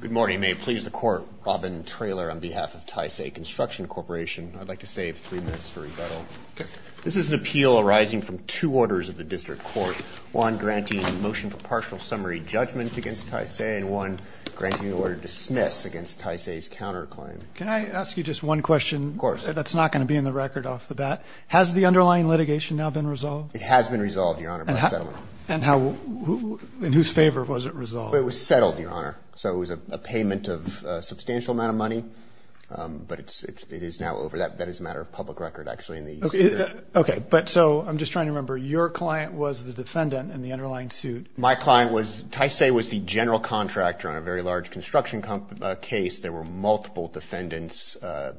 Good morning. May it please the Court, Robin Traylor on behalf of Taisei Construction Corporation. I'd like to save three minutes for rebuttal. This is an appeal arising from two orders of the District Court, one granting a motion for partial summary judgment against Taisei and one granting the order to dismiss against Taisei's counterclaim. Can I ask you just one question? Of course. That's not going to be in the record off the bat. Has the underlying litigation now been resolved? It has been resolved, Your Honor, by settlement. And in whose favor was it resolved? It was settled, Your Honor. So it was a payment of a substantial amount of money, but it is now over. That is a matter of public record, actually. Okay. But so I'm just trying to remember, your client was the defendant in the underlying suit. My client was – Taisei was the general contractor on a very large construction case. There were multiple defendants,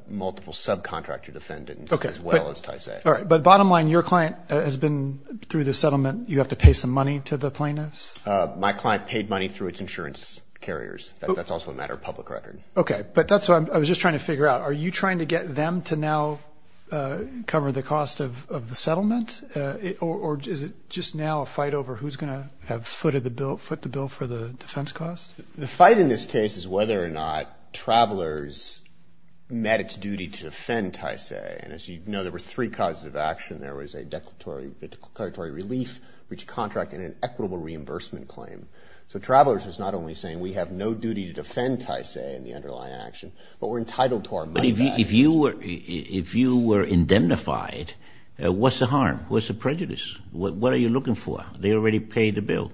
multiple subcontractor defendants as well as Taisei. But bottom line, your client has been – through the settlement, you have to pay some money to the plaintiffs? My client paid money through its insurance carriers. That's also a matter of public record. Okay. But that's what I was just trying to figure out. Are you trying to get them to now cover the cost of the settlement? Or is it just now a fight over who's going to have footed the bill – foot the bill for the defense costs? The fight in this case is whether or not travelers met its duty to defend Taisei. As you know, there were three causes of action. There was a declaratory relief, which contracted an equitable reimbursement claim. So travelers is not only saying we have no duty to defend Taisei in the underlying action, but we're entitled to our money back. But if you were indemnified, what's the harm? What's the prejudice? What are you looking for? They already paid the bill.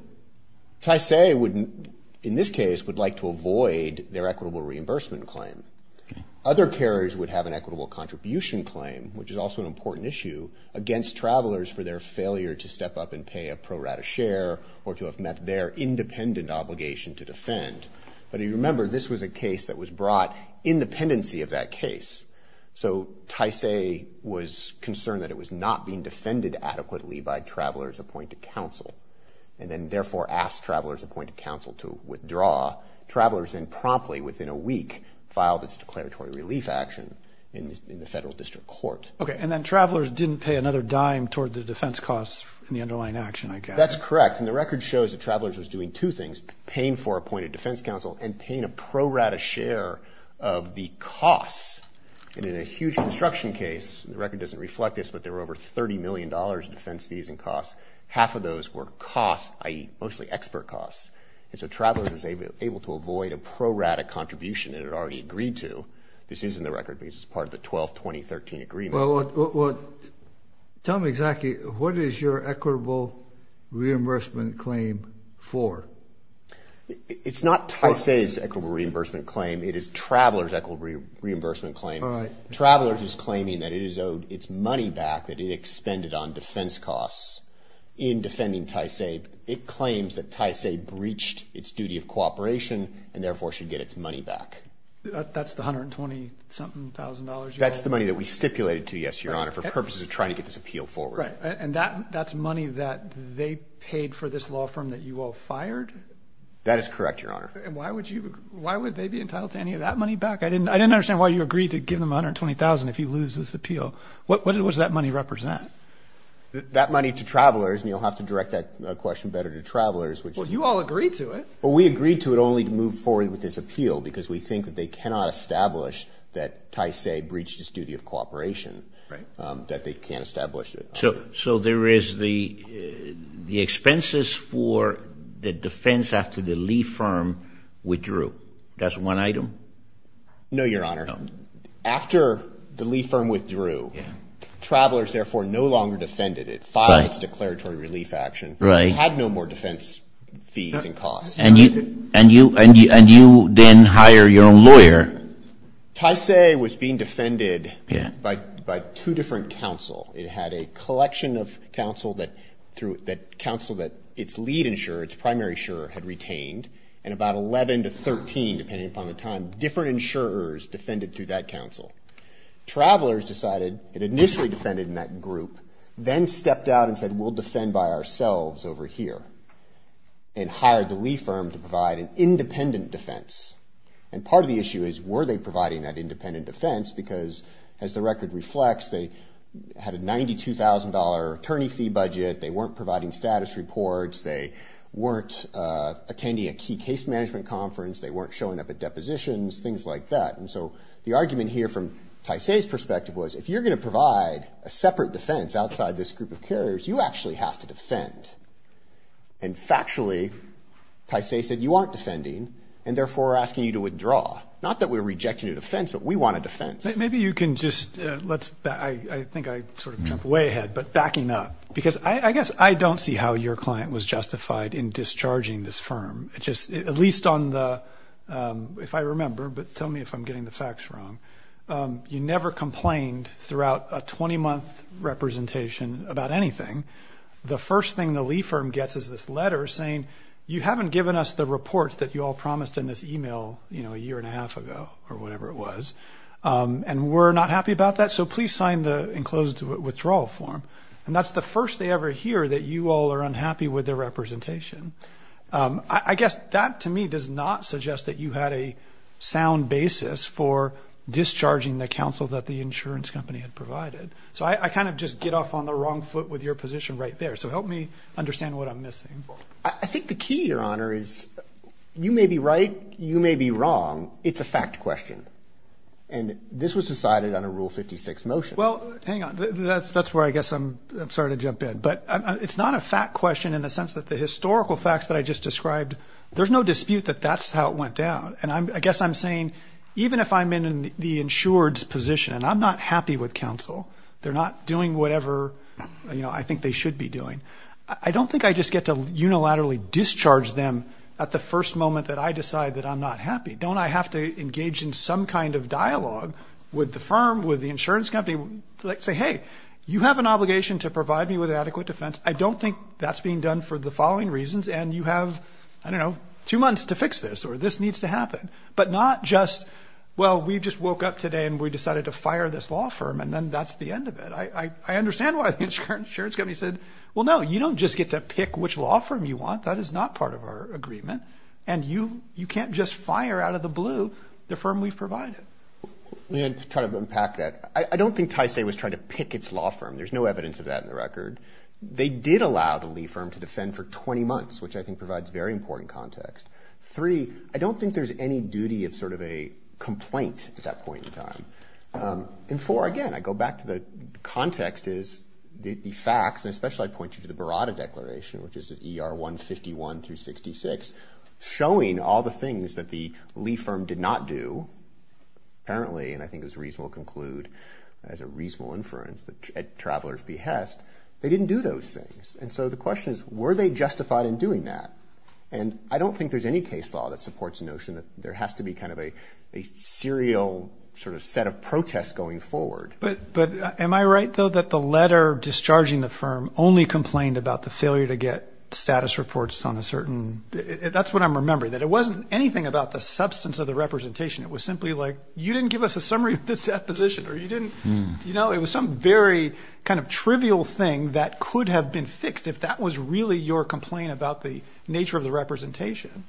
So Taisei would – in this case, would like to avoid their equitable reimbursement claim. Other carriers would have an equitable contribution claim, which is also an important issue, against travelers for their failure to step up and pay a pro rata share or to have met their independent obligation to defend. But if you remember, this was a case that was brought in dependency of that case. So Taisei was concerned that it was not being defended adequately by travelers appointed to counsel. And then therefore asked travelers appointed to counsel to withdraw. Travelers then promptly, within a week, filed its declaratory relief action in the federal district court. Okay. And then travelers didn't pay another dime toward the defense costs in the underlying action, I guess. That's correct. And the record shows that travelers was doing two things, paying for appointed defense counsel and paying a pro rata share of the costs. And in a huge construction case, the record doesn't reflect this, but there were over $30 million in defense fees and costs. Half of those were costs, i.e., mostly expert costs. And so travelers was able to avoid a pro rata contribution that it already agreed to. This is in the record because it's part of the 12th 2013 agreement. Well, tell me exactly, what is your equitable reimbursement claim for? It's not Taisei's equitable reimbursement claim. It is travelers' equitable reimbursement claim. All right. Travelers is claiming that it is owed its money back that it expended on defense costs in defending Taisei. It claims that Taisei breached its duty of cooperation and therefore should get its money back. That's the $120-something thousand dollars? That's the money that we stipulated to, yes, Your Honor, for purposes of trying to get this appeal forward. Right. And that's money that they paid for this law firm that you all fired? That is correct, Your Honor. And why would they be entitled to any of that money back? I didn't understand why you agreed to give them $120,000 if you lose this appeal. What does that money represent? That money to travelers, and you'll have to direct that question better to travelers. Well, you all agreed to it. Well, we agreed to it only to move forward with this appeal because we think that they cannot establish that Taisei breached his duty of cooperation, that they can't establish it. So there is the expenses for the defense after the Lee firm withdrew. That's one item? No, Your Honor. No. After the Lee firm withdrew, Travelers therefore no longer defended it. It filed its declaratory relief action. Right. It had no more defense fees and costs. And you then hire your own lawyer? Taisei was being defended by two different counsel. It had a collection of counsel that its lead insurer, its primary insurer, had retained, and about 11 to 13, depending upon the time, different insurers defended through that counsel. Travelers decided and initially defended in that group, then stepped out and said, we'll defend by ourselves over here, and hired the Lee firm to provide an independent defense. And part of the issue is, were they providing that independent defense? Because as the record reflects, they had a $92,000 attorney fee budget, they weren't providing status reports, they weren't attending a key case management conference, they weren't showing up at depositions, things like that. And so the argument here from Taisei's perspective was, if you're going to provide a separate defense outside this group of carriers, you actually have to defend. And factually, Taisei said, you aren't defending, and therefore we're asking you to withdraw. Not that we're rejecting your defense, but we want a defense. Maybe you can just, I think I sort of jumped way ahead, but backing up. Because I guess I don't see how your client was justified in discharging this firm, at least on the, if I remember, but tell me if I'm getting the facts wrong. You never complained throughout a 20-month representation about anything. The first thing the Lee firm gets is this letter saying, you haven't given us the reports that you all promised in this email a year and a half ago, or whatever it was. And we're not happy about that, so please sign the enclosed withdrawal form. And that's the first they ever hear that you all are unhappy with their representation. I guess that to me does not suggest that you had a sound basis for discharging the counsel that the insurance company had provided. So I kind of just get off on the wrong foot with your position right there. So help me understand what I'm missing. I think the key, Your Honor, is you may be right, you may be wrong, it's a fact question. And this was decided on a Rule 56 motion. Well, hang on. That's where I guess I'm sorry to jump in. But it's not a fact question in the sense that the historical facts that I just described, there's no dispute that that's how it went down. And I guess I'm saying even if I'm in the insured's position and I'm not happy with counsel, they're not doing whatever, you know, I think they should be doing, I don't think I just get to unilaterally discharge them at the first moment that I decide that I'm not happy. Don't I have to engage in some kind of dialogue with the firm, with the insurance company, say, hey, you have an obligation to provide me with adequate defense. I don't think that's being done for the following reasons. And you have, I don't know, two months to fix this or this needs to happen. But not just, well, we just woke up today and we decided to fire this law firm and then that's the end of it. I understand why the insurance company said, well, no, you don't just get to pick which law firm you want. That is not part of our agreement. And you can't just fire out of the blue the firm we've provided. And to try to unpack that, I don't think Tysay was trying to pick its law firm. There's no evidence of that in the record. They did allow the Lee firm to defend for 20 months, which I think provides very important context. Three, I don't think there's any duty of sort of a complaint at that point in time. And four, again, I go back to the context is the facts, and especially I point you to the Barada Declaration, which is at ER 151 through 66, showing all the things that the Lee firm did not do, apparently, and I think it was reasonable to conclude as a reasonable inference that at traveler's behest, they didn't do those things. And so the question is, were they justified in doing that? And I don't think there's any case law that supports the notion that there has to be kind of a serial sort of set of protests going forward. But am I right, though, that the letter discharging the firm only complained about the failure to get status reports on a certain – that's what I'm remembering, that it wasn't anything about the substance of the representation. It was simply like, you didn't give us a summary of the deposition or you didn't – you know, it was some very kind of trivial thing that could have been fixed if that was really your complaint about the nature of the representation.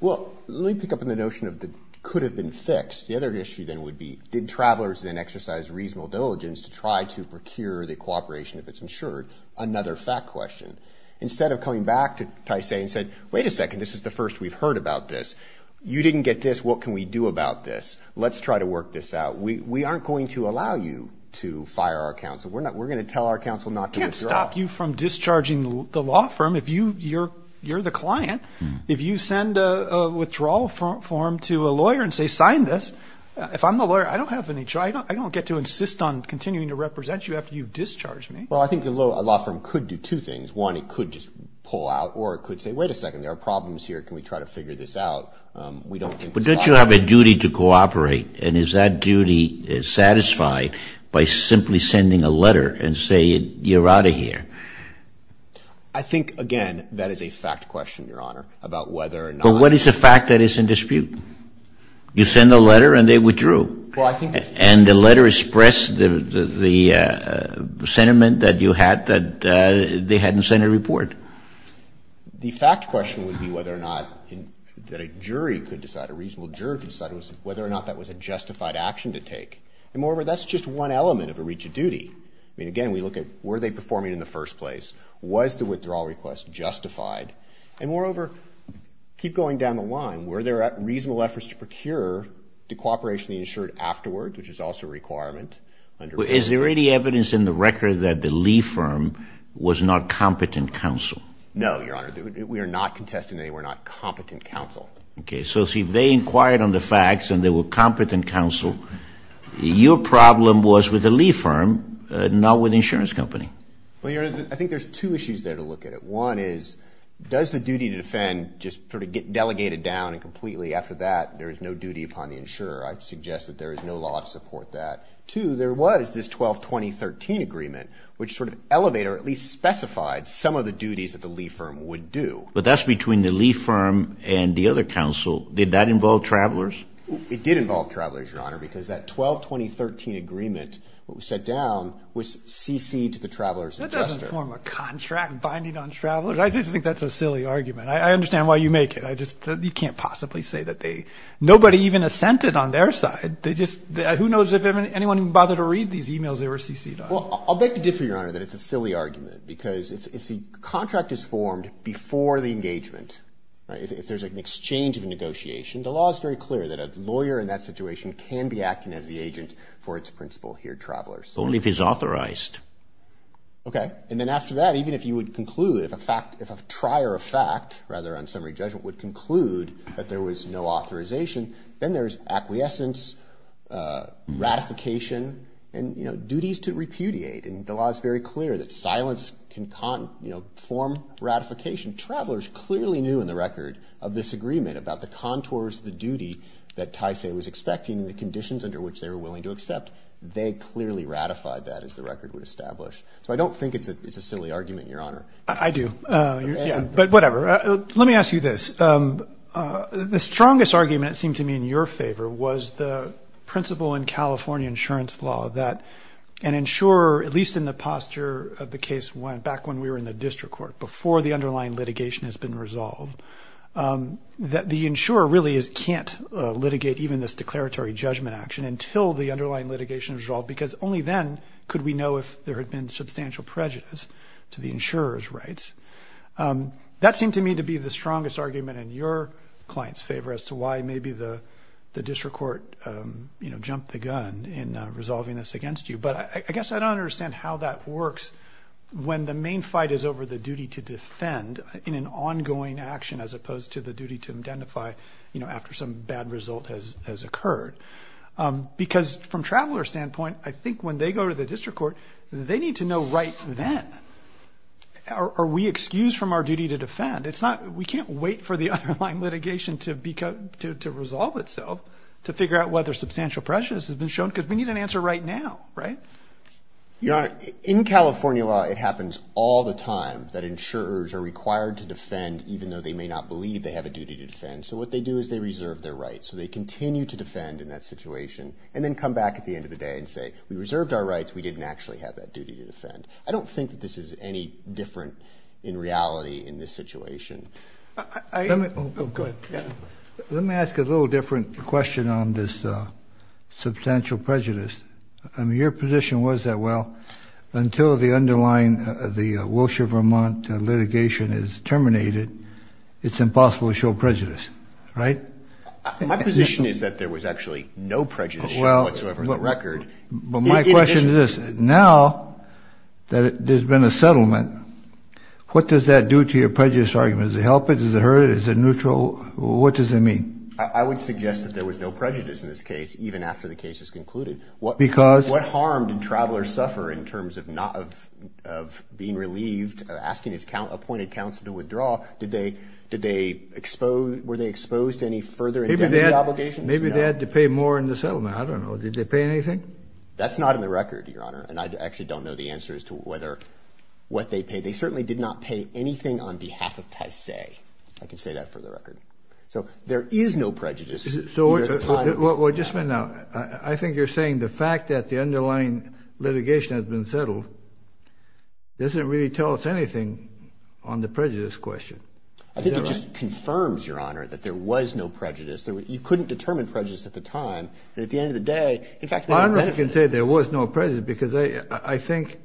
Well, let me pick up on the notion of the could have been fixed. The other issue then would be, did travelers then exercise reasonable diligence to try to procure the cooperation if it's insured? Another fact question. Instead of coming back to Taisei and said, wait a second, this is the first we've heard about this. You didn't get this. What can we do about this? Let's try to work this out. We aren't going to allow you to fire our counsel. We're going to tell our counsel not to withdraw. We can't stop you from discharging the law firm if you're the client. If you send a withdrawal form to a lawyer and say, sign this, if I'm the lawyer, I don't have any – I don't get to insist on continuing to represent you after you've discharged me. Well, I think the law firm could do two things. One, it could just pull out or it could say, wait a second, there are problems here. Can we try to figure this out? We don't think it's obvious. But don't you have a duty to cooperate? And is that duty satisfied by simply sending a letter and saying, you're out of here? I think, again, that is a fact question, Your Honor, about whether or not – But what is a fact that is in dispute? You send a letter and they withdrew. Well, I think – And the letter expressed the sentiment that you had that they hadn't sent a report. The fact question would be whether or not that a jury could decide, a reasonable jury could decide, whether or not that was a justified action to take. And moreover, that's just one element of a reach of duty. I mean, again, we look at, were they performing in the first place? Was the withdrawal request justified? And moreover, keep going down the line. Were there reasonable efforts to procure the cooperation they ensured afterwards, which is also a requirement under – Is there any evidence in the record that the Lee firm was not competent counsel? No, Your Honor. We are not contesting that they were not competent counsel. Okay. So, see, if they inquired on the facts and they were competent counsel, your problem was with the Lee firm, not with the insurance company. Well, Your Honor, I think there's two issues there to look at. One is, does the duty to defend just sort of get delegated down and completely after that there is no duty upon the insurer? I'd suggest that there is no law to support that. Two, there was this 12-2013 agreement, which sort of elevated or at least specified some of the duties that the Lee firm would do. But that's between the Lee firm and the other counsel. Did that involve travelers? It did involve travelers, Your Honor, because that 12-2013 agreement, what we set down, was cc'd to the travelers adjuster. That doesn't form a contract binding on travelers. I just think that's a silly argument. I understand why you make it. I just – you can't possibly say that they – nobody even assented on their side. They just – who knows if anyone even bothered to read these emails they were cc'd on. Well, I'll beg to differ, Your Honor, that it's a silly argument because if the contract is formed before the engagement, right, if there's an exchange of a negotiation, the law is very clear that a lawyer in that situation can be acting as the agent for its principle here, travelers. Only if he's authorized. Okay. And then after that, even if you would conclude, if a fact – if a trier of fact, rather on summary judgment, would conclude that there was no authorization, then there's acquiescence, ratification, and, you know, duties to repudiate. And the law is very clear that silence can form ratification. Travelers clearly knew in the record of this agreement about the contours of the duty that TSA was expecting and the conditions under which they were willing to accept. They clearly ratified that as the record would establish. So I don't think it's a silly argument, Your Honor. I do. Yeah. But whatever. Let me ask you this. The strongest argument, it seemed to me, in your favor was the principle in California insurance law that an insurer, at least in the posture of the case back when we were in the district court, before the underlying litigation has been resolved, that the insurer really can't litigate even this declaratory judgment action until the underlying litigation is resolved, because only then could we know if there had been substantial prejudice to the insurer's rights. That seemed to me to be the strongest argument in your client's favor as to why maybe the district court, you know, jumped the gun in resolving this against you. But I guess I don't understand how that works when the main fight is over the duty to defend in an ongoing action as opposed to the duty to identify, you know, after some bad result has occurred. Because from Traveler's standpoint, I think when they go to the district court, they need to know right then, are we excused from our duty to defend? We can't wait for the underlying litigation to resolve itself to figure out whether substantial prejudice has been shown, because we need an answer right now, right? Your Honor, in California law, it happens all the time that insurers are required to defend even though they may not believe they have a duty to defend. So what they do is they reserve their rights. So they continue to defend in that situation and then come back at the end of the day and say, we reserved our rights, we didn't actually have that duty to defend. I don't think that this is any different in reality in this situation. Let me ask a little different question on this substantial prejudice. I mean, your position was that, well, until the underlying, the Wilshire-Vermont litigation is terminated, it's impossible to show prejudice, right? My position is that there was actually no prejudice shown whatsoever in the record. But my question is this. Now that there's been a settlement, what does that do to your prejudice argument? Does it help it? Does it hurt it? Is it neutral? What does it mean? I would suggest that there was no prejudice in this case even after the case is concluded. What harm did travelers suffer in terms of being relieved, asking his appointed counsel to withdraw? Were they exposed to any further indemnity obligations? Maybe they had to pay more in the settlement. I don't know. Did they pay anything? That's not in the record, Your Honor. And I actually don't know the answer as to what they paid. They certainly did not pay anything on behalf of Taisei. I can say that for the record. So there is no prejudice. Well, just a minute now. I think you're saying the fact that the underlying litigation has been settled doesn't really tell us anything on the prejudice question. I think it just confirms, Your Honor, that there was no prejudice. You couldn't determine prejudice at the time. And at the end of the day, in fact— Honor can say there was no prejudice because I think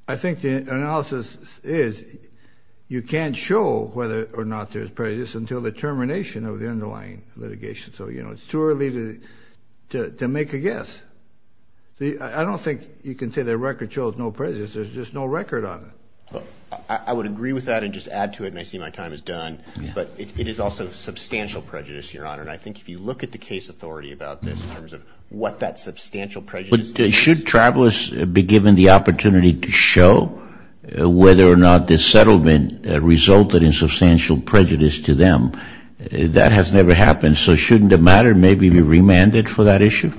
the analysis is you can't show whether or not there's prejudice until the termination of the underlying litigation. So, you know, it's too early to make a guess. I don't think you can say the record shows no prejudice. There's just no record on it. I would agree with that and just add to it, and I see my time is done. But it is also substantial prejudice, Your Honor. And I think if you look at the case authority about this in terms of what that substantial prejudice is— Should travelers be given the opportunity to show whether or not this settlement resulted in substantial prejudice to them? That has never happened. So shouldn't the matter maybe be remanded for that issue?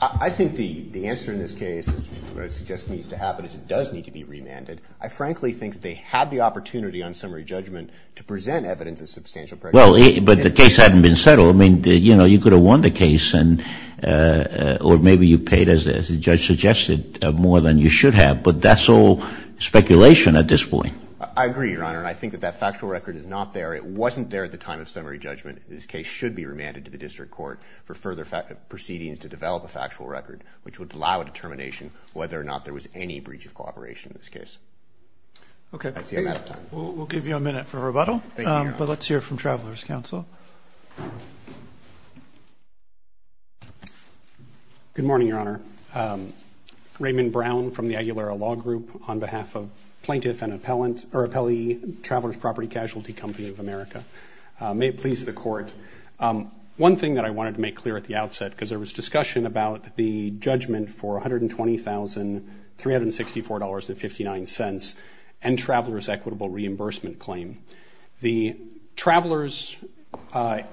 I think the answer in this case is what I would suggest needs to happen is it does need to be remanded. I frankly think they had the opportunity on summary judgment to present evidence of substantial prejudice. But the case hadn't been settled. I mean, you know, you could have won the case or maybe you paid, as the judge suggested, more than you should have. But that's all speculation at this point. I agree, Your Honor, and I think that that factual record is not there. It wasn't there at the time of summary judgment. This case should be remanded to the district court for further proceedings to develop a factual record which would allow a determination whether or not there was any breach of cooperation in this case. Okay. I see I'm out of time. We'll give you a minute for rebuttal. Thank you, Your Honor. But let's hear from Travelers Counsel. Good morning, Your Honor. Raymond Brown from the Aguilera Law Group on behalf of Plaintiff and Appellee Travelers Property Casualty Company of America. May it please the Court. One thing that I wanted to make clear at the outset because there was discussion about the judgment for $120,364.59 and Travelers Equitable Reimbursement Claim. The Travelers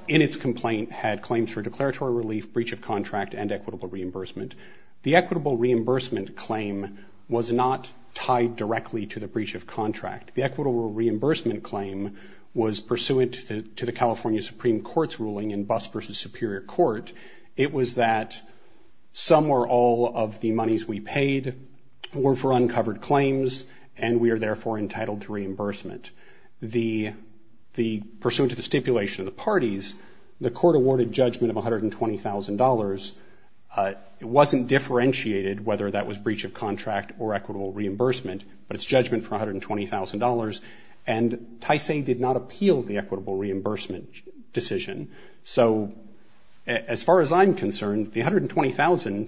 in its complaint had claims for declaratory relief, breach of contract, and equitable reimbursement. The equitable reimbursement claim was not tied directly to the breach of contract. The equitable reimbursement claim was pursuant to the California Supreme Court's ruling in Bust v. Superior Court. It was that some or all of the monies we paid were for uncovered claims and we are therefore entitled to reimbursement. Pursuant to the stipulation of the parties, the court awarded judgment of $120,000. It wasn't differentiated whether that was breach of contract or equitable reimbursement, but it's judgment for $120,000. And TSA did not appeal the equitable reimbursement decision. So as far as I'm concerned, the $120,000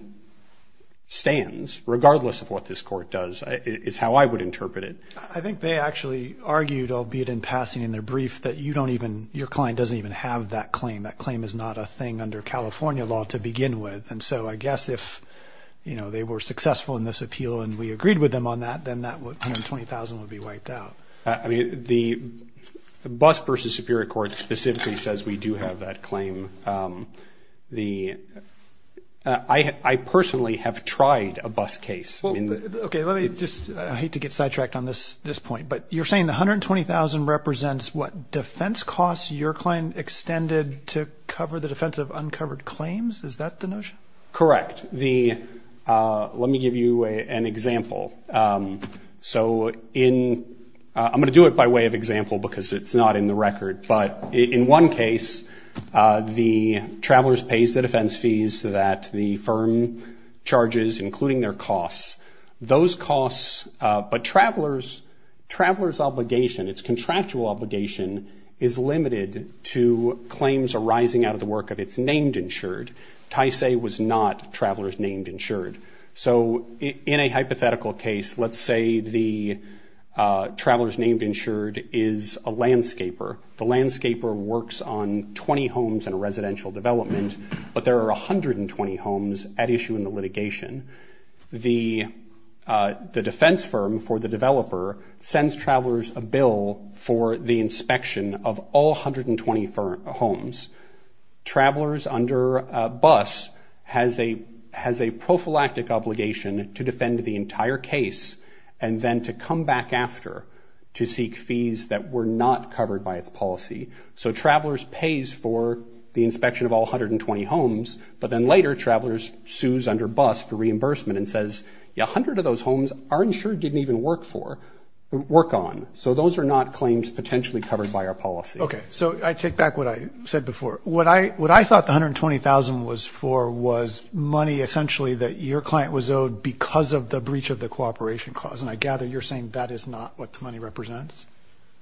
stands, regardless of what this court does. It's how I would interpret it. I think they actually argued, albeit in passing in their brief, that your client doesn't even have that claim. That claim is not a thing under California law to begin with. And so I guess if they were successful in this appeal and we agreed with them on that, then that $120,000 would be wiped out. The Bust v. Superior Court specifically says we do have that claim. I personally have tried a Bust case. I hate to get sidetracked on this point, but you're saying the $120,000 represents what? Defense costs your client extended to cover the defense of uncovered claims? Is that the notion? Correct. Let me give you an example. I'm going to do it by way of example because it's not in the record, but in one case the traveler's pays the defense fees that the firm charges, including their costs. Those costs, but traveler's obligation, its contractual obligation, is limited to claims arising out of the work of its named insured. Tyce was not traveler's named insured. So in a hypothetical case, let's say the traveler's named insured is a landscaper. The landscaper works on 20 homes in a residential development, but there are 120 homes at issue in the litigation. The defense firm for the developer sends traveler's a bill for the inspection of all 120 homes. Traveler's under Bust has a prophylactic obligation to defend the entire case and then to come back after to seek fees that were not covered by its policy. So traveler's pays for the inspection of all 120 homes, but then later traveler's sues under Bust for reimbursement and says, a hundred of those homes aren't insured, didn't even work for, work on. So those are not claims potentially covered by our policy. Okay. So I take back what I said before. What I thought the $120,000 was for was money essentially that your client was owed because of the breach of the cooperation clause. And I gather you're saying that is not what the money represents?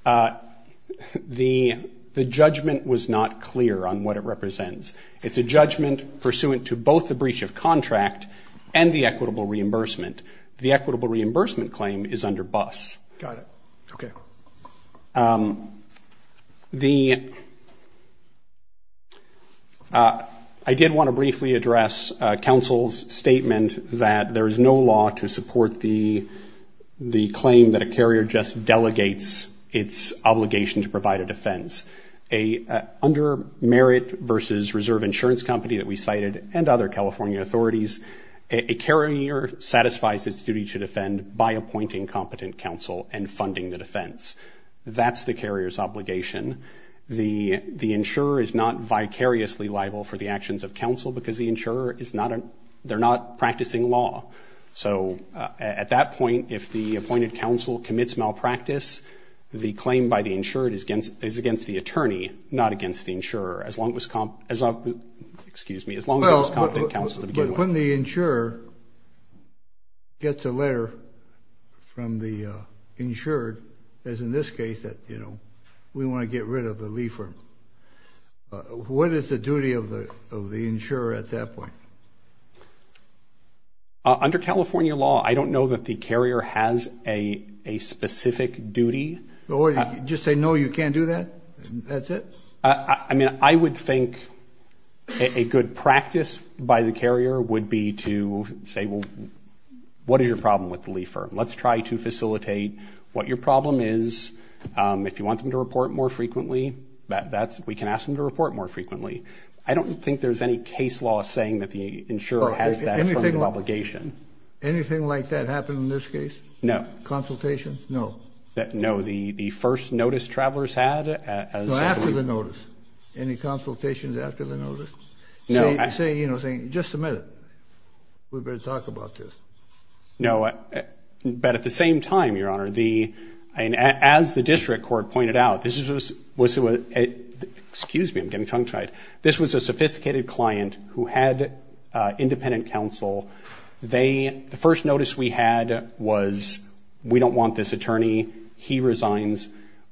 The judgment was not clear on what it represents. It's a judgment pursuant to both the breach of contract and the equitable reimbursement. The equitable reimbursement claim is under Bust. Got it. Okay. I did want to briefly address counsel's statement that there is no law to support the claim that a carrier just delegates its obligation to provide a defense. Under Merit versus Reserve Insurance Company that we cited and other California authorities, a carrier satisfies its duty to defend by appointing competent counsel and funding the defense. That's the carrier's obligation. The insurer is not vicariously liable for the actions of counsel because the insurer is not a, they're not practicing law. So at that point, if the appointed counsel commits malpractice, the claim by the insured is against the attorney, not against the insurer, as long as it was competent counsel to begin with. When the insurer gets a letter from the insured, as in this case, that, you know, we want to get rid of the lead firm, what is the duty of the insurer at that point? Under California law, I don't know that the carrier has a specific duty. Just say no, you can't do that? That's it? I mean, I would think a good practice by the carrier would be to say, well, what is your problem with the lead firm? Let's try to facilitate what your problem is. If you want them to report more frequently, we can ask them to report more frequently. I don't think there's any case law saying that the insurer has that affirmative obligation. Anything like that happen in this case? No. Consultation? No. No. I don't recall the first notice travelers had. No, after the notice. Any consultations after the notice? No. Say, you know, just a minute. We better talk about this. No. But at the same time, Your Honor, as the district court pointed out, this was a sophisticated client who had independent counsel. The first notice we had was, we don't want this attorney. He resigns.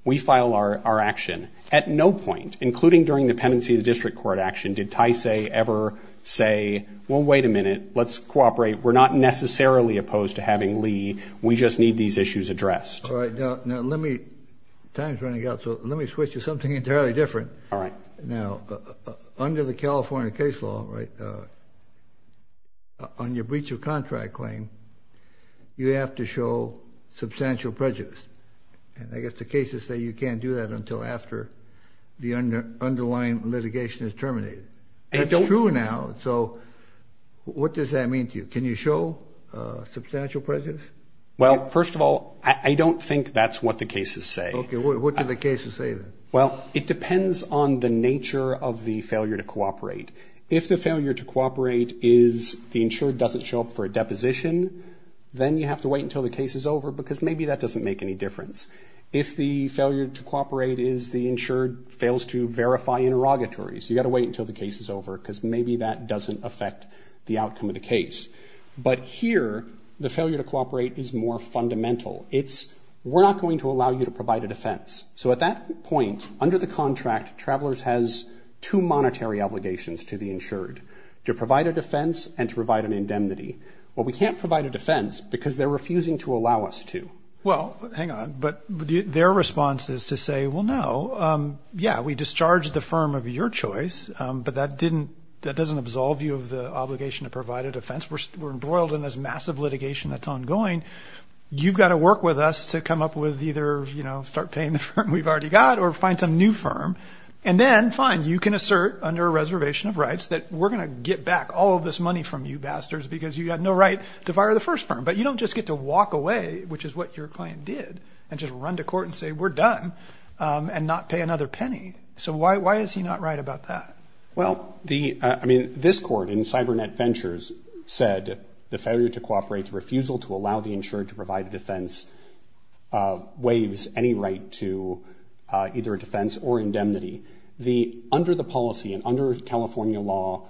We file our action. At no point, including during the pendency of the district court action, did Ty say ever say, well, wait a minute. Let's cooperate. We're not necessarily opposed to having Lee. We just need these issues addressed. All right. Now, let me, time's running out, so let me switch to something entirely different. All right. Now, under the California case law, right, on your breach of contract claim, you have to show substantial prejudice. And I guess the cases say you can't do that until after the underlying litigation is terminated. That's true now. So what does that mean to you? Can you show substantial prejudice? Well, first of all, I don't think that's what the cases say. Okay. What do the cases say then? Well, it depends on the nature of the failure to cooperate. If the failure to cooperate is the insured doesn't show up for a deposition, then you have to wait until the case is over, because maybe that doesn't make any difference. If the failure to cooperate is the insured fails to verify interrogatories, you've got to wait until the case is over, because maybe that doesn't affect the outcome of the case. But here, the failure to cooperate is more fundamental. It's, we're not going to allow you to provide a defense. So at that point, under the contract, Travelers has two monetary obligations to the insured, to provide a defense and to provide an indemnity. Well, we can't provide a defense because they're refusing to allow us to. Well, hang on. But their response is to say, well, no, yeah, we discharged the firm of your choice, but that didn't, that doesn't absolve you of the obligation to provide a defense. We're embroiled in this massive litigation that's ongoing. You've got to work with us to come up with either, you know, start paying the firm we've already got or find some new firm. And then, fine, you can assert under a reservation of rights that we're going to get back all of this money from you bastards because you had no right to fire the first firm. But you don't just get to walk away, which is what your client did, and just run to court and say, we're done, and not pay another penny. So why is he not right about that? Well, the, I mean, this court in CyberNet Ventures said the failure to cooperate, the refusal to allow the insured to provide a defense waives any right to either a defense or indemnity. The, under the policy and under California law,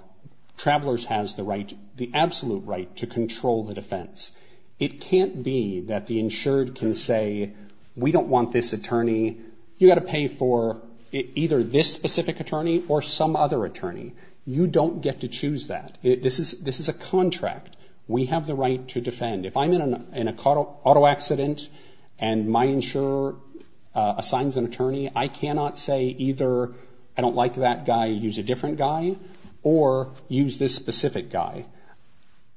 Travelers has the right, the absolute right to control the defense. It can't be that the insured can say, we don't want this attorney. You've got to pay for either this specific attorney or some other attorney. You don't get to choose that. This is a contract. We have the right to defend. If I'm in an auto accident and my insurer assigns an attorney, I cannot say either I don't like that guy, use a different guy, or use this specific guy.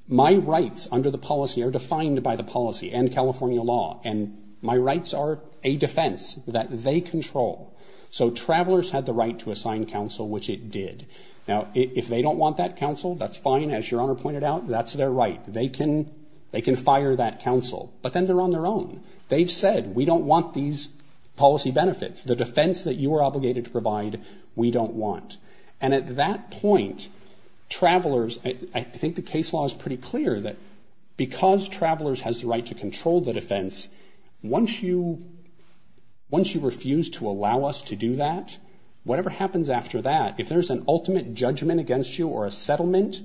My rights under the policy are defined by the policy and California law, and my rights are a defense that they control. So Travelers had the right to assign counsel, which it did. Now, if they don't want that counsel, that's fine. As Your Honor pointed out, that's their right. They can fire that counsel. But then they're on their own. They've said, we don't want these policy benefits. The defense that you are obligated to provide, we don't want. And at that point, Travelers, I think the case law is pretty clear, that because Travelers has the right to control the defense, once you refuse to allow us to do that, whatever happens after that, if there's an ultimate judgment against you or a settlement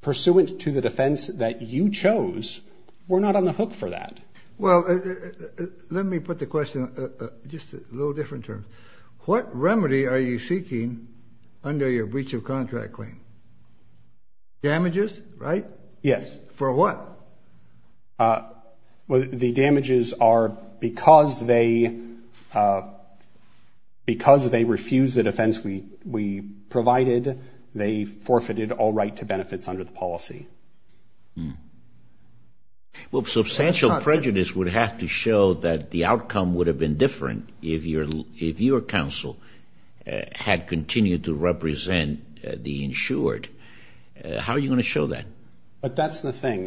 pursuant to the defense that you chose, we're not on the hook for that. Well, let me put the question just a little different term. What remedy are you seeking under your breach of contract claim? Damages, right? Yes. For what? The damages are because they refused the defense we provided, they forfeited all right to benefits under the policy. Well, substantial prejudice would have to show that the outcome would have been different if your counsel had continued to represent the insured. How are you going to show that? But that's the thing.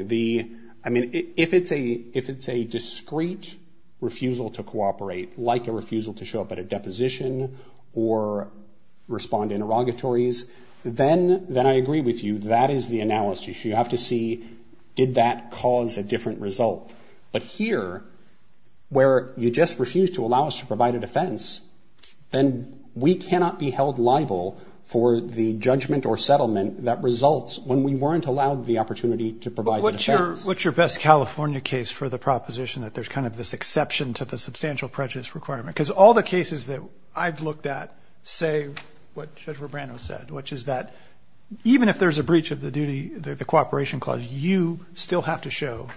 I mean, if it's a discrete refusal to cooperate, like a refusal to show up at a deposition or respond to interrogatories, then I agree with you, that is the analysis. You have to see, did that cause a different result? But here, where you just refused to allow us to provide a defense, then we cannot be held liable for the judgment or settlement that results when we weren't allowed the opportunity to provide the defense. But what's your best California case for the proposition that there's kind of this exception to the substantial prejudice requirement? Because all the cases that I've looked at say what Judge Rubrano said, which is that even if there's a breach of the duty, the cooperation clause, you still have to show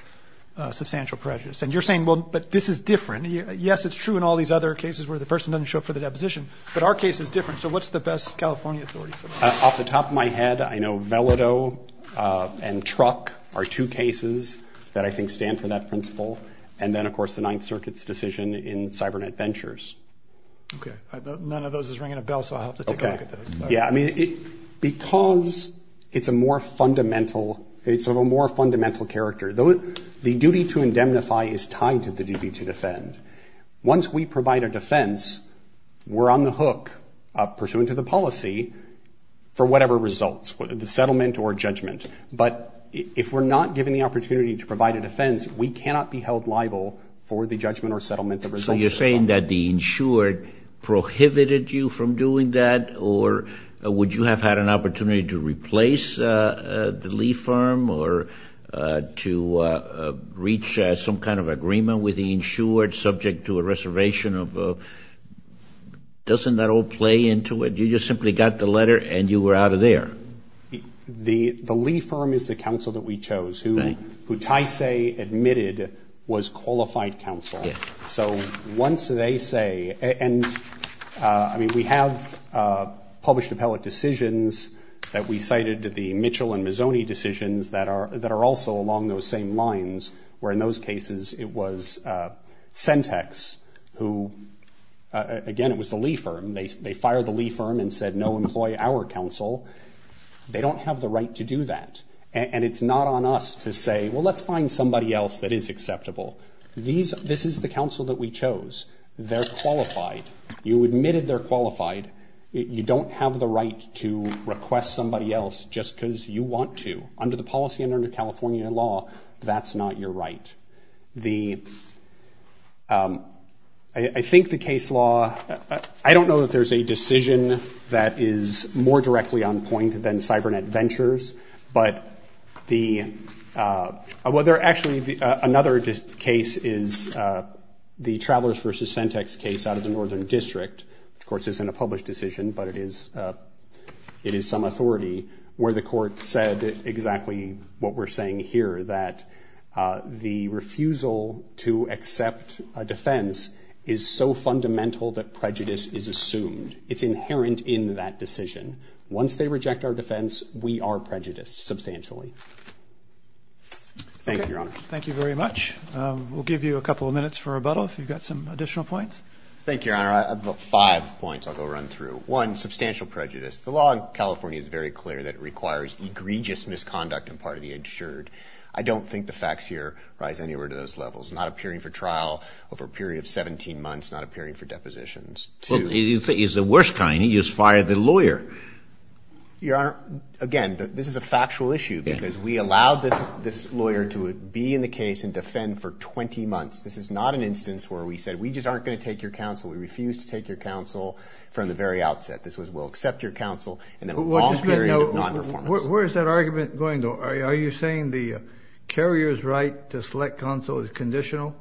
substantial prejudice. And you're saying, well, but this is different. Yes, it's true in all these other cases where the person doesn't show up for the deposition, but our case is different. So what's the best California authority for that? Off the top of my head, I know Vellado and Truck are two cases that I think stand for that principle. And then, of course, the Ninth Circuit's decision in Cybernet Ventures. Okay. None of those is ringing a bell, so I'll have to take a look at those. Because it's a more fundamental character. The duty to indemnify is tied to the duty to defend. Once we provide a defense, we're on the hook, pursuant to the policy, for whatever results, the settlement or judgment. But if we're not given the opportunity to provide a defense, we cannot be held liable for the judgment or settlement of results. So you're saying that the insured prohibited you from doing that, or would you have had an opportunity to replace the lea firm or to reach some kind of agreement with the insured subject to a reservation? Doesn't that all play into it? You just simply got the letter and you were out of there. The lea firm is the counsel that we chose, who Tyce admitted was qualified counsel. So once they say, and, I mean, we have published appellate decisions that we cited the Mitchell and Mazzoni decisions that are also along those same lines, where in those cases it was Sentex who, again, it was the lea firm. They fired the lea firm and said, no, employ our counsel. They don't have the right to do that. And it's not on us to say, well, let's find somebody else that is acceptable. This is the counsel that we chose. They're qualified. You admitted they're qualified. You don't have the right to request somebody else just because you want to. Under the policy and under California law, that's not your right. I think the case law, I don't know that there's a decision that is more directly on point than CyberNet Ventures, but there actually another case is the Travelers v. Sentex case out of the Northern District, which, of course, isn't a published decision, but it is some authority, where the court said exactly what we're saying here, that the refusal to accept a defense is so fundamental that prejudice is assumed. It's inherent in that decision. Once they reject our defense, we are prejudiced substantially. Thank you, Your Honor. Thank you very much. We'll give you a couple of minutes for rebuttal if you've got some additional points. Thank you, Your Honor. I've got five points I'll go run through. One, substantial prejudice. The law in California is very clear that it requires egregious misconduct on part of the insured. I don't think the facts here rise anywhere to those levels. Not appearing for trial over a period of 17 months, not appearing for depositions. He's the worst kind. He just fired the lawyer. Your Honor, again, this is a factual issue, because we allowed this lawyer to be in the case and defend for 20 months. This is not an instance where we said we just aren't going to take your counsel. We refused to take your counsel from the very outset. This was we'll accept your counsel and then a long period of nonperformance. Where is that argument going, though? Are you saying the carrier's right to select counsel is conditional?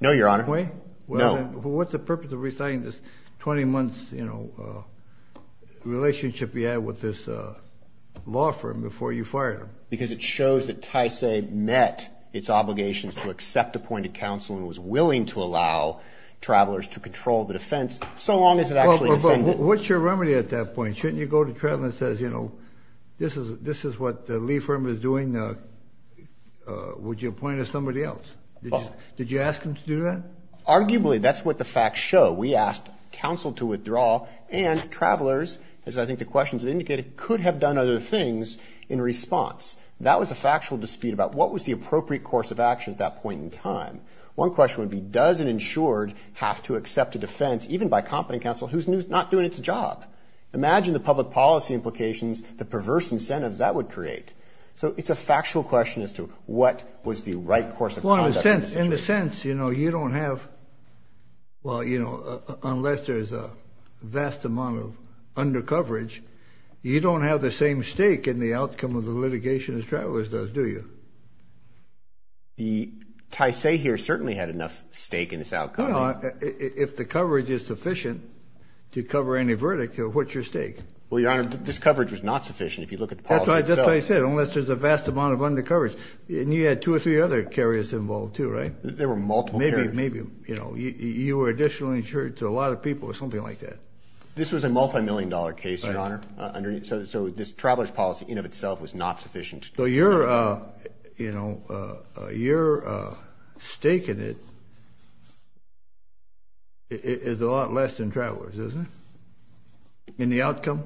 No, Your Honor. No. What's the purpose of resigning this 20-month relationship you had with this law firm before you fired him? Because it shows that Tyce met its obligations to accept appointed counsel and was willing to allow travelers to control the defense, so long as it actually defended it. But what's your remedy at that point? Shouldn't you go to trial and say, you know, this is what the Lee firm is doing. Would you appoint us somebody else? Did you ask him to do that? Arguably, that's what the facts show. We asked counsel to withdraw, and travelers, as I think the questions have indicated, could have done other things in response. That was a factual dispute about what was the appropriate course of action at that point in time. One question would be, does an insured have to accept a defense, even by competent counsel, who's not doing its job? Imagine the public policy implications, the perverse incentives that would create. Well, in a sense, you know, you don't have, well, you know, unless there's a vast amount of undercoverage, you don't have the same stake in the outcome of the litigation as travelers does, do you? The Tyce here certainly had enough stake in this outcome. If the coverage is sufficient to cover any verdict, what's your stake? Well, Your Honor, this coverage was not sufficient if you look at the policy itself. That's what I said, unless there's a vast amount of undercoverage. And you had two or three other carriers involved, too, right? There were multiple carriers. Maybe, you know, you were additionally insured to a lot of people or something like that. This was a multimillion-dollar case, Your Honor. So this traveler's policy in and of itself was not sufficient. So your, you know, your stake in it is a lot less than travelers, isn't it, in the outcome?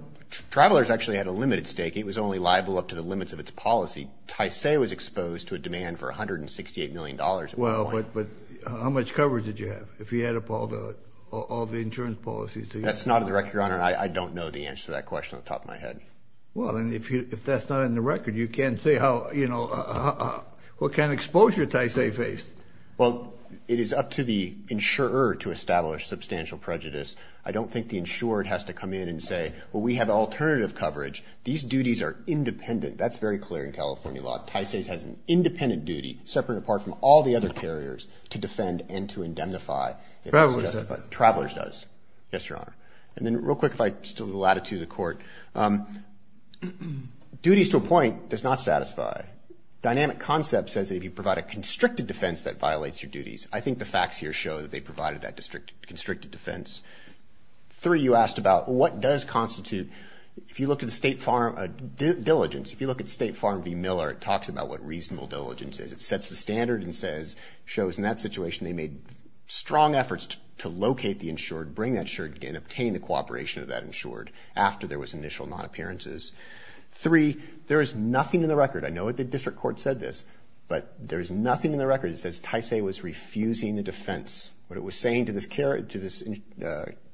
Travelers actually had a limited stake. It was only liable up to the limits of its policy. Tyce was exposed to a demand for $168 million at one point. Well, but how much coverage did you have if you add up all the insurance policies? That's not on the record, Your Honor. I don't know the answer to that question off the top of my head. Well, then, if that's not on the record, you can't say how, you know, what kind of exposure Tyce faced. Well, it is up to the insurer to establish substantial prejudice. I don't think the insurer has to come in and say, well, we have alternative coverage. These duties are independent. That's very clear in California law. Tyce has an independent duty, separate and apart from all the other carriers, to defend and to indemnify. Travelers do. Travelers does. Yes, Your Honor. And then real quick, if I still have the latitude of the Court. Duties to a point does not satisfy. Dynamic concept says that if you provide a constricted defense, that violates your duties. I think the facts here show that they provided that constricted defense. Three, you asked about what does constitute. If you look at the State Farm Diligence, if you look at State Farm v. Miller, it talks about what reasonable diligence is. It sets the standard and says, shows in that situation they made strong efforts to locate the insured, bring that insured, and obtain the cooperation of that insured after there was initial non-appearances. Three, there is nothing in the record. I know the district court said this, but there is nothing in the record that says Tyce was refusing the defense. What it was saying to this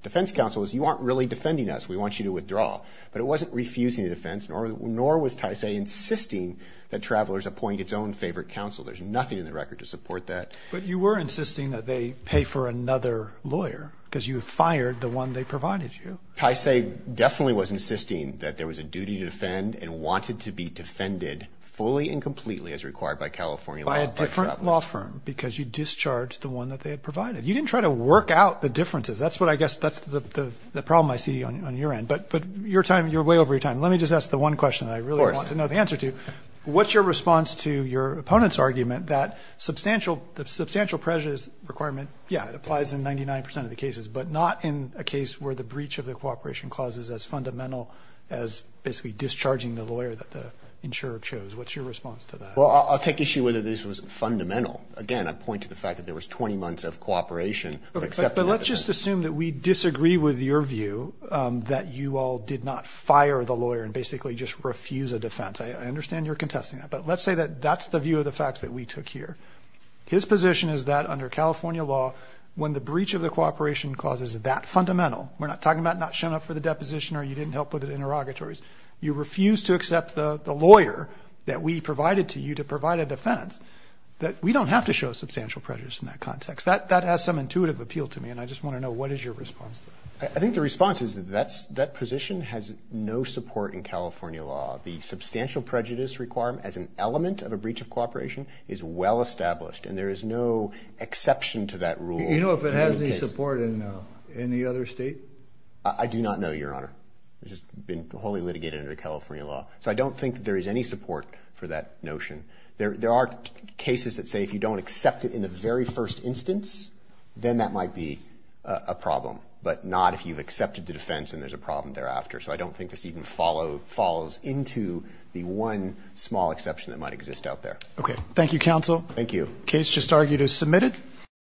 defense counsel is you aren't really defending us. We want you to withdraw. But it wasn't refusing the defense, nor was Tyce insisting that travelers appoint its own favorite counsel. There's nothing in the record to support that. But you were insisting that they pay for another lawyer because you fired the one they provided you. Tyce definitely was insisting that there was a duty to defend and wanted to be defended fully and completely as required by California law by travelers. You didn't fire a law firm because you discharged the one that they had provided. You didn't try to work out the differences. That's what I guess that's the problem I see on your end. But your time, you're way over your time. Let me just ask the one question I really want to know the answer to. What's your response to your opponent's argument that substantial, the substantial pressure requirement, yeah, it applies in 99 percent of the cases, but not in a case where the breach of the cooperation clause is as fundamental as basically discharging the lawyer that the insurer chose? What's your response to that? Well, I'll take issue whether this was fundamental. Again, I point to the fact that there was 20 months of cooperation. But let's just assume that we disagree with your view that you all did not fire the lawyer and basically just refuse a defense. I understand you're contesting that. But let's say that that's the view of the facts that we took here. His position is that under California law, when the breach of the cooperation clause is that fundamental, we're not talking about not showing up for the deposition or you didn't help with the interrogatories, you refused to accept the lawyer that we provided to you to provide a defense, that we don't have to show substantial prejudice in that context. That has some intuitive appeal to me. And I just want to know what is your response to that? I think the response is that that position has no support in California law. The substantial prejudice requirement as an element of a breach of cooperation is well established. And there is no exception to that rule. Do you know if it has any support in any other state? I do not know, Your Honor. It's just been wholly litigated under California law. So I don't think there is any support for that notion. There are cases that say if you don't accept it in the very first instance, then that might be a problem, but not if you've accepted the defense and there's a problem thereafter. So I don't think this even follows into the one small exception that might exist out there. Okay. Thank you, counsel. Thank you. The case just argued is submitted.